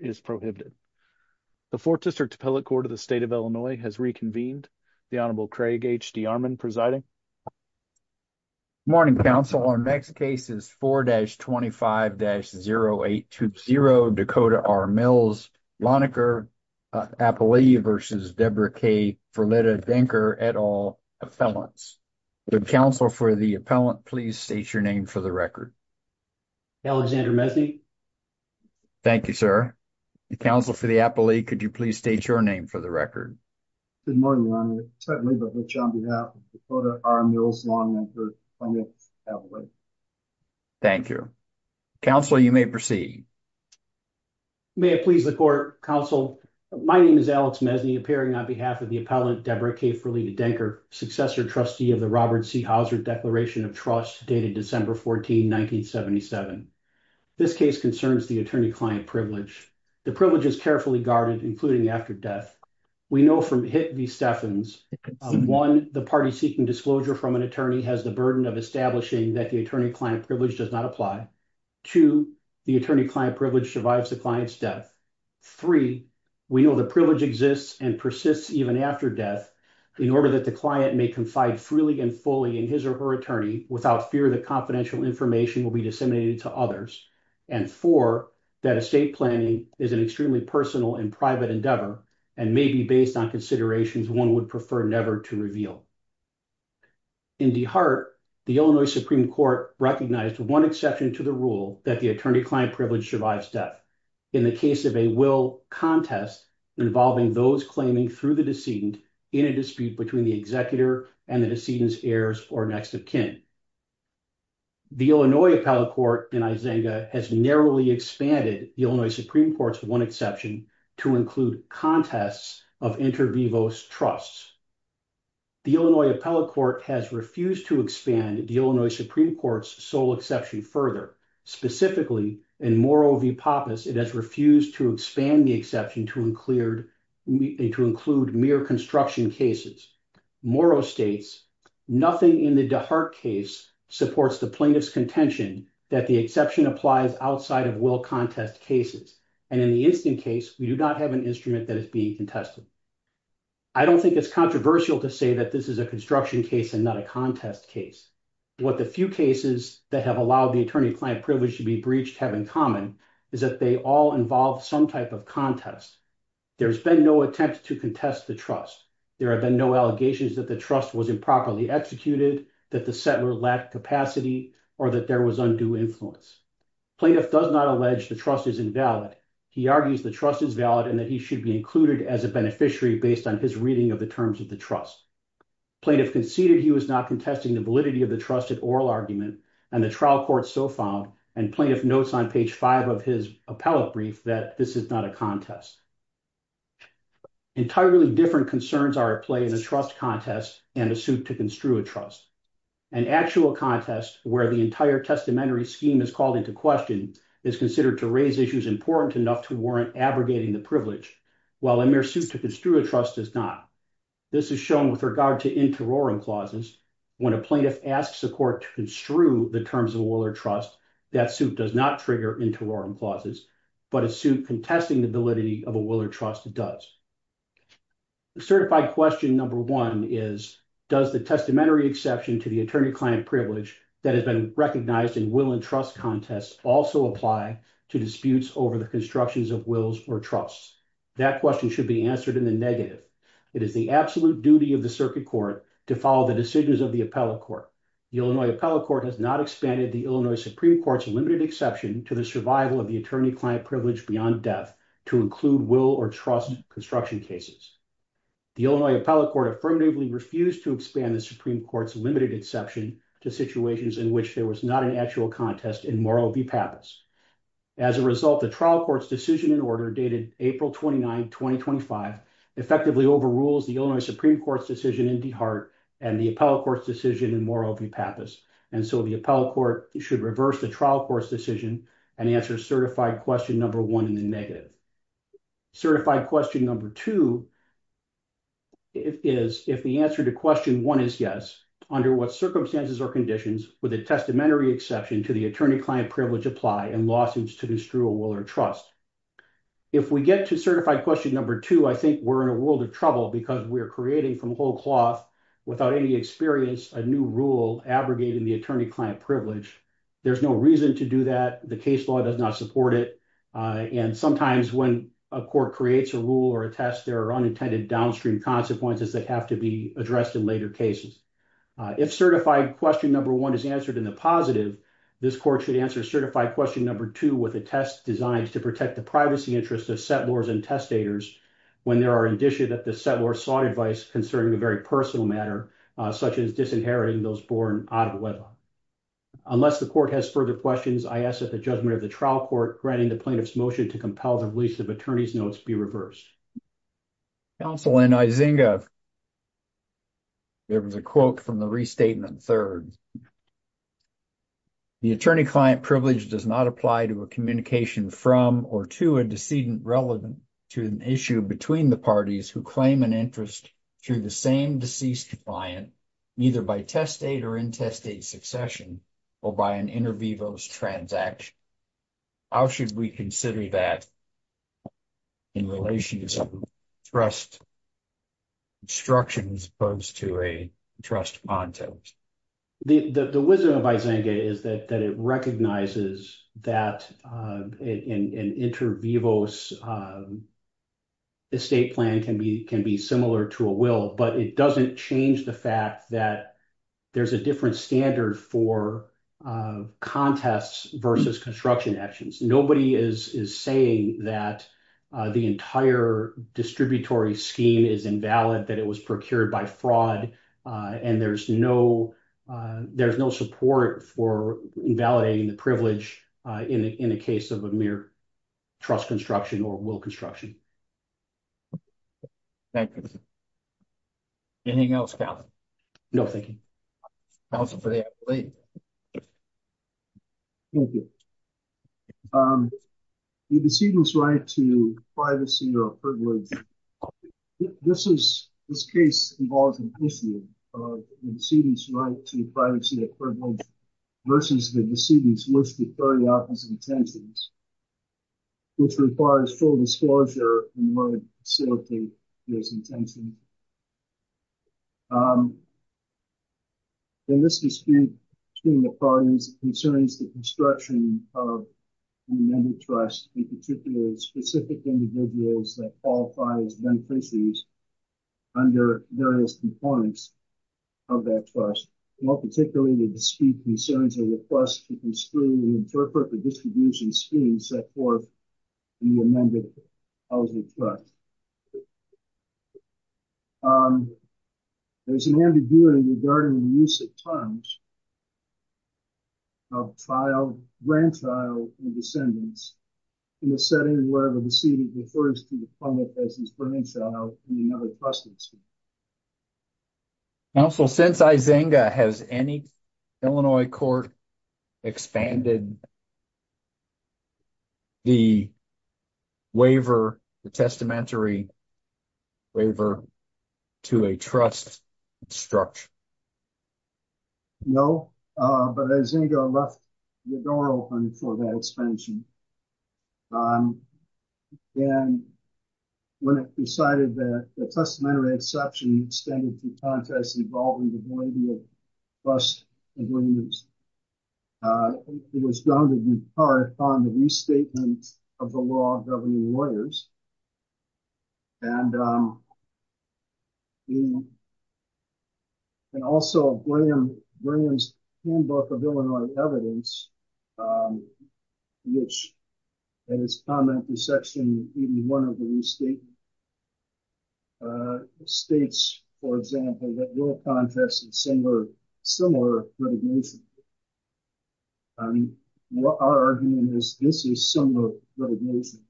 is prohibited. The 4th District Appellate Court of the State of Illinois has reconvened. The Honorable Craig H. DeArmond presiding. Good morning, counsel. Our next case is 4-25-0820 Dakota R. Mills, Lonenecker, Appalachia v. Deborah K. Ferletta-Denker, et al. Appellants. The counsel for the appellant, please state your name for the record. Alexander Mesny. Thank you, sir. The counsel for the appellate, could you please state your name for the record? Good morning, Your Honor. It's my pleasure to speak on behalf of Dakota R. Mills, Lonenecker, Appalachia. Thank you. Counsel, you may proceed. May it please the court, counsel. My name is Alex Mesny, appearing on behalf of the appellant Deborah K. Ferletta-Denker, successor trustee of the Robert C. Hauser Declaration of Trust, dated December 14, 1977. This case concerns the attorney-client privilege. The privilege is carefully guarded, including after death. We know from Hitt v. Stephens, one, the party seeking disclosure from an attorney has the burden of establishing that the attorney-client privilege does not apply. Two, the attorney-client privilege survives the client's death. Three, we know the privilege exists and persists even after death in order that the client may confide freely and fully in his or her attorney without fear that confidential information will be disseminated to others. And four, that estate planning is an extremely personal and private endeavor and may be based on considerations one would prefer never to reveal. In DeHart, the Illinois Supreme Court recognized one exception to the rule that the attorney-client privilege survives death. In the case of a will contest involving those claiming through the decedent in a dispute between the executor and the decedent's heirs or next of kin, the Illinois appellate court in Isenga has narrowly expanded the Illinois Supreme Court's one exception to include contests of inter vivos trusts. The Illinois appellate court has refused to expand the Illinois Supreme Court's exception further. Specifically, in Moro v. Pappas, it has refused to expand the exception to include mere construction cases. Moro states, nothing in the DeHart case supports the plaintiff's contention that the exception applies outside of will contest cases. And in the instant case, we do not have an instrument that is being contested. I don't think it's controversial to say that this is a construction case and not a contest case. What the few cases that have allowed the attorney-client privilege to be breached have in common is that they all involve some type of contest. There's been no attempt to contest the trust. There have been no allegations that the trust was improperly executed, that the settler lacked capacity, or that there was undue influence. Plaintiff does not allege the trust is invalid. He argues the trust is valid and that he should be included as a beneficiary based on his reading of the terms of the trust. Plaintiff conceded he was not contesting the validity of the trusted oral argument, and the trial court so found, and plaintiff notes on page five of his appellate brief, that this is not a contest. Entirely different concerns are at play in a trust contest and a suit to construe a trust. An actual contest where the entire testamentary scheme is called into question is considered to raise issues important enough to warrant abrogating the privilege, while a mere suit to construe a trust is not. This is shown with regard to interrogum clauses. When a plaintiff asks the court to construe the terms of oral trust, that suit does not trigger interrogum clauses, but a suit contesting the validity of a will or trust does. The certified question number one is, does the testamentary exception to the attorney-client privilege that has been recognized in will and trust contests also apply to disputes over the constructions of wills or trusts? That question should be answered in the negative. It is the absolute duty of the circuit court to follow the decisions of the appellate court. The Illinois appellate court has not expanded the Illinois Supreme Court's limited exception to the survival of the attorney-client privilege beyond death to include will or trust construction cases. The Illinois appellate court affirmatively refused to expand the Supreme Court's limited exception to situations in which there was not an actual contest in moral v. pappas. As a result, the trial court's decision in order dated April 29, 2025, effectively overrules the Illinois Supreme Court's decision in DeHart and the appellate court's decision in moral v. pappas, and so the appellate court should reverse the trial court's decision and answer certified question number one in the negative. Certified question number two is, if the answer to question one is yes, under what circumstances or conditions would the testamentary exception to the attorney-client privilege apply in lawsuits to destroy will or trust? If we get to certified question number two, I think we're in a world of trouble because we're creating from whole cloth without any experience a new rule abrogating the attorney-client privilege. There's no reason to do that. The case law does not support it, and sometimes when a court creates a rule or a test, there are unintended downstream consequences that have to be addressed in later cases. If certified question number one is answered in the positive, this court should answer certified question number two with a test designed to protect the privacy interests of settlors and testators when there are indicia that the settlor sought advice concerning a very personal matter, such as disinheriting those born out of wedlock. Unless the court has further questions, I ask that the judgment of the trial court granting the plaintiff's motion to compel the release of attorney's notes be reversed. Counsel, in Izinga, there was a quote from the restatement third. The attorney-client privilege does not apply to a communication from or to a decedent relevant to an issue between the parties who claim an interest through the same deceased client, either by test date or in test date succession, or by an inter vivos transaction. How should we consider that in relation to some trust instructions opposed to a trust context? The wisdom of Izinga is that it recognizes that an inter vivos estate plan can be similar to a will, but it doesn't change the fact that there's a different standard for contests versus construction actions. Nobody is saying that the entire distributary scheme is invalid, that it was procured by fraud, and there's no support for invalidating the privilege in the case of a mere trust construction or will construction. Thank you. Anything else, counsel? No, thank you. Counsel, for the appellate. Thank you. The decedent's right to privacy or privilege, this case involves an issue of the decedent's right to privacy or privilege versus the decedent's wish to carry out his intentions, which requires full disclosure in order to facilitate his intention. In this dispute between the parties, it concerns the construction of the amended trust, in particular, specific individuals that qualify as beneficiaries under various components of that trust. More particularly, the dispute concerns a request to construe and interpret the distribution scheme set forth in the amended housing trust. There's an ambiguity regarding the use of terms of child, grandchild, and descendants in the setting where the decedent refers to the public as his grandchild in another custody scheme. Counsel, since Izinga, has any Illinois court expanded the waiver, the testamentary waiver to a trust structure? No, but Izinga left the door open for that expansion. And when it decided that the testamentary exception extended to contest involving the validity of trust agreements, it was done to impart upon the restatement of the law of governing lawyers. And also, Graham's handbook of Illinois evidence, which, in his comment to section 81 of the new state, states, for example, that we'll contest a similar litigation. Our argument is this is similar litigation.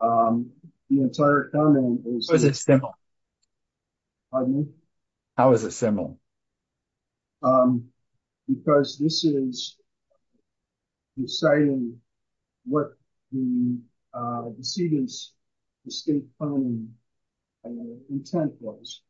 The entire comment is- How is it similar? Pardon me? How is it similar? Because this is deciding what the decedent's state planning intent was.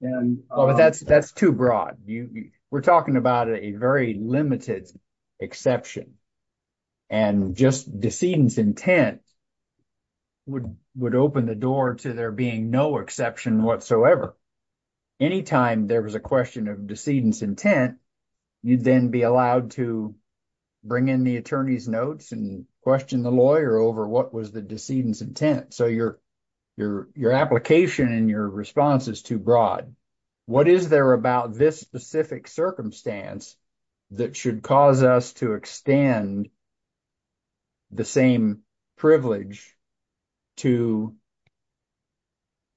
Yeah, but that's too broad. We're talking about a very limited exception. And just decedent's intent would open the door to there being no exception whatsoever. Anytime there was a question of decedent's intent, you'd then be allowed to bring in the attorney's notes and question the lawyer over what was the decedent's intent. So your application and your response is too broad. What is there about this specific circumstance that should cause us to extend the same privilege to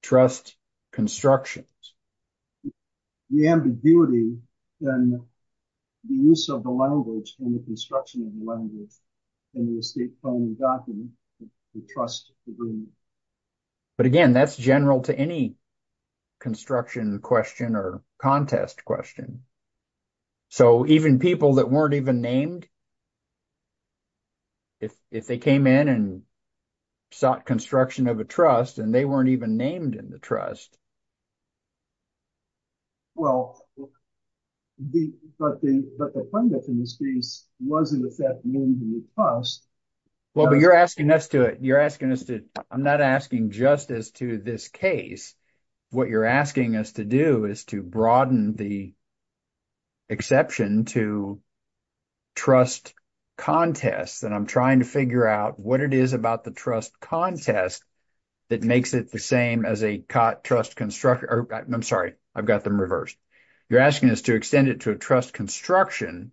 trust constructions? The ambiguity in the use of the language and the construction of the language in the state planning document, the trust agreement. But again, that's general to any construction question or contest question. So even people that weren't even named, if they came in and sought construction of a trust, and they weren't even named in the trust. Well, but the pundits in this case was in effect named in the trust. Well, but you're asking us to, I'm not asking just as to this case. What you're asking us to do is to broaden the exception to trust contests. And I'm trying to figure out what it is about the I'm sorry, I've got them reversed. You're asking us to extend it to a trust construction.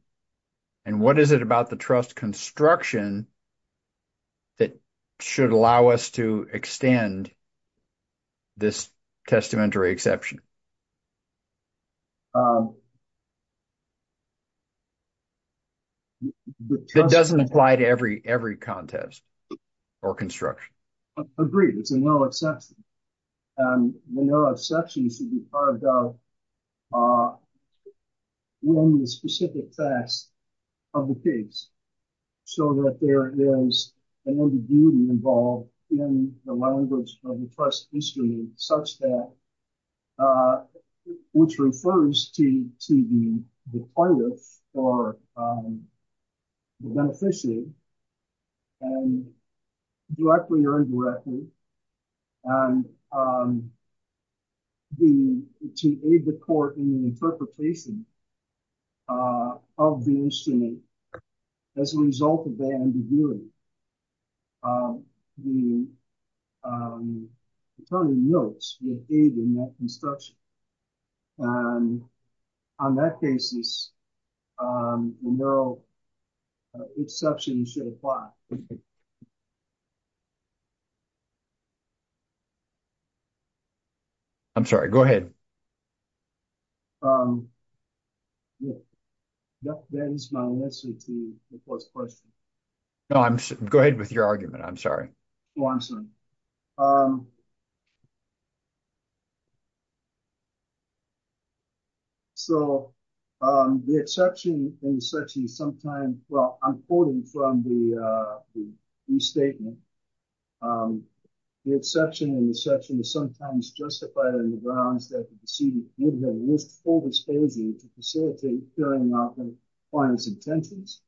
And what is it about the trust construction that should allow us to extend this testamentary exception? That doesn't apply to every contest or construction. Agreed, it's a narrow exception. And the narrow exception should be carved out when the specific facts of the case. So that there is an ambiguity involved in the language of the trust history, such that which refers to the plaintiff or the beneficiary, directly or indirectly, and to aid the court in the interpretation of the instrument as a result of the ambiguity. The attorney notes the aid in that construction. On that basis, the narrow exception should apply. I'm sorry, go ahead. That ends my answer to the first question. No, go ahead with your argument, I'm sorry. So, the exception in such a sometime, well, I'm quoting from the restatement. The exception in the section is sometimes justified on the grounds that the decedent would have wished full disclosure to facilitate clearing out the client's intentions.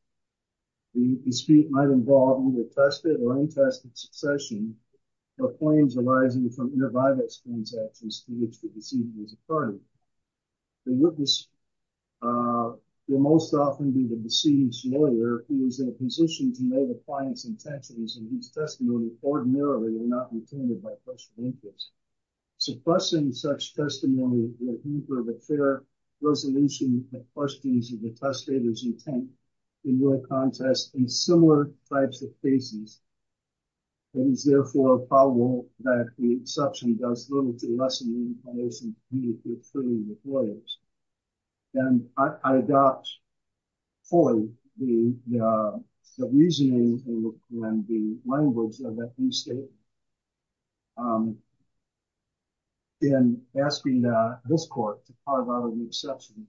The dispute might involve either tested or untested succession of claims arising from inter-violence transactions to which the decedent is a party. The witness will most often be the decedent's lawyer who is in a position to know the client's intentions and whose testimony ordinarily are not intended by partial interest. Suppressing such testimony will hinder the fair resolution of the trustee's or the testator's intent into a contest in similar types of cases. It is therefore probable that the exception does little to lessen the information needed to prove the claims. And I adopt fully the reasoning and the language of that restatement in asking this court to pardon the exception.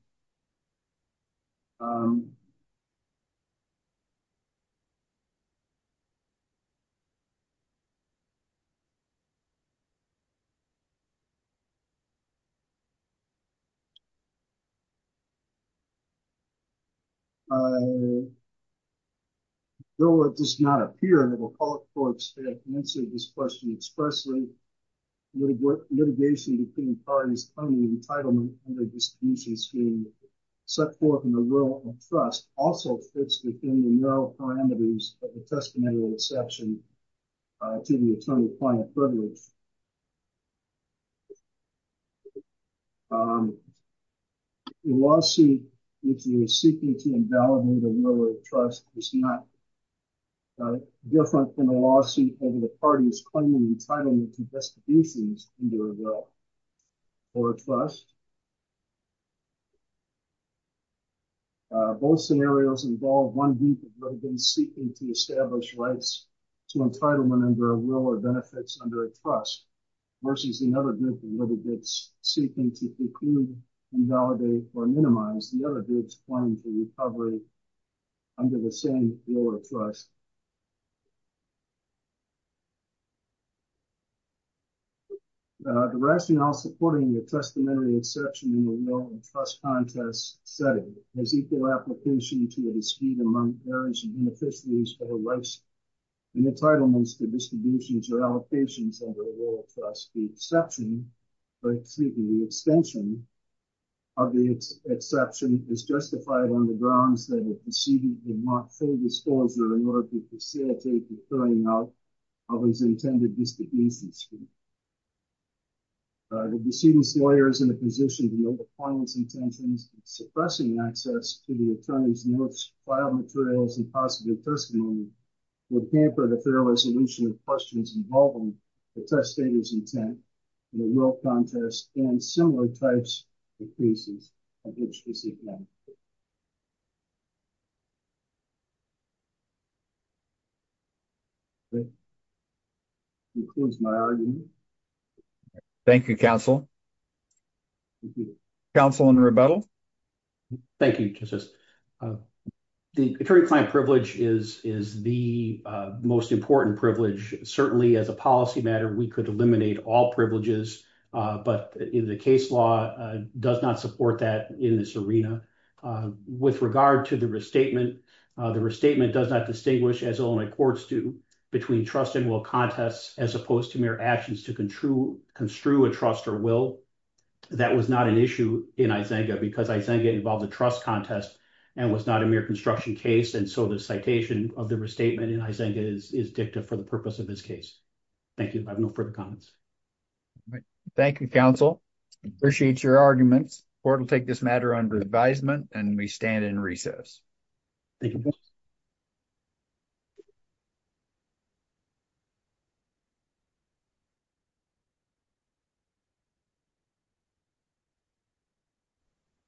I know it does not appear that a public court can answer this question expressly. Litigation between parties on the entitlement and the distribution scheme set forth in the rule of trust also fits within the narrow parameters of the testamentary exception to the attorney-client privilege. The lawsuit, if you're seeking to invalidate a rule of trust, is not different from a lawsuit where the party is claiming the entitlement to distributions under a rule or a trust. Both scenarios involve one group of litigants seeking to establish rights to entitlement under a rule or benefits under a trust versus another group of litigants seeking to preclude, invalidate, or minimize the other group's claim to recovery under the same rule of trust. The rationale supporting the testamentary exception in the rule of trust contest setting has equal application to the dispute among various beneficiaries for the rights and entitlements to distributions or allocations under a rule of trust. The exception, or excuse me, the extension of the exception is justified on the grounds that the decedent did not fully disclosure in order to facilitate the clearing out of his intended disdainful dispute. The decedent's lawyer is in a position to know the client's intentions and suppressing access to the attorney's notes, file materials, and possible testimony would hamper the thorough resolution of questions involving the testator's intent in the rule of trust and similar types of cases of which this is not. That concludes my argument. Thank you, counsel. Counsel in rebuttal. Thank you, Justice. The attorney-client privilege is the most important privilege. Certainly as a policy matter, we could eliminate all privileges, but the case law does not support that in this arena. With regard to the restatement, the restatement does not distinguish, as only courts do, between trust and will contests as opposed to mere actions to construe a trust or will. That was not an issue in IZENGA because IZENGA involved a trust contest and was not a mere construction case, and so the citation of the restatement in IZENGA is dicta for the purpose of this case. Thank you. I have no further comments. All right. Thank you, counsel. I appreciate your arguments. Court will take this matter under advisement and may stand in recess.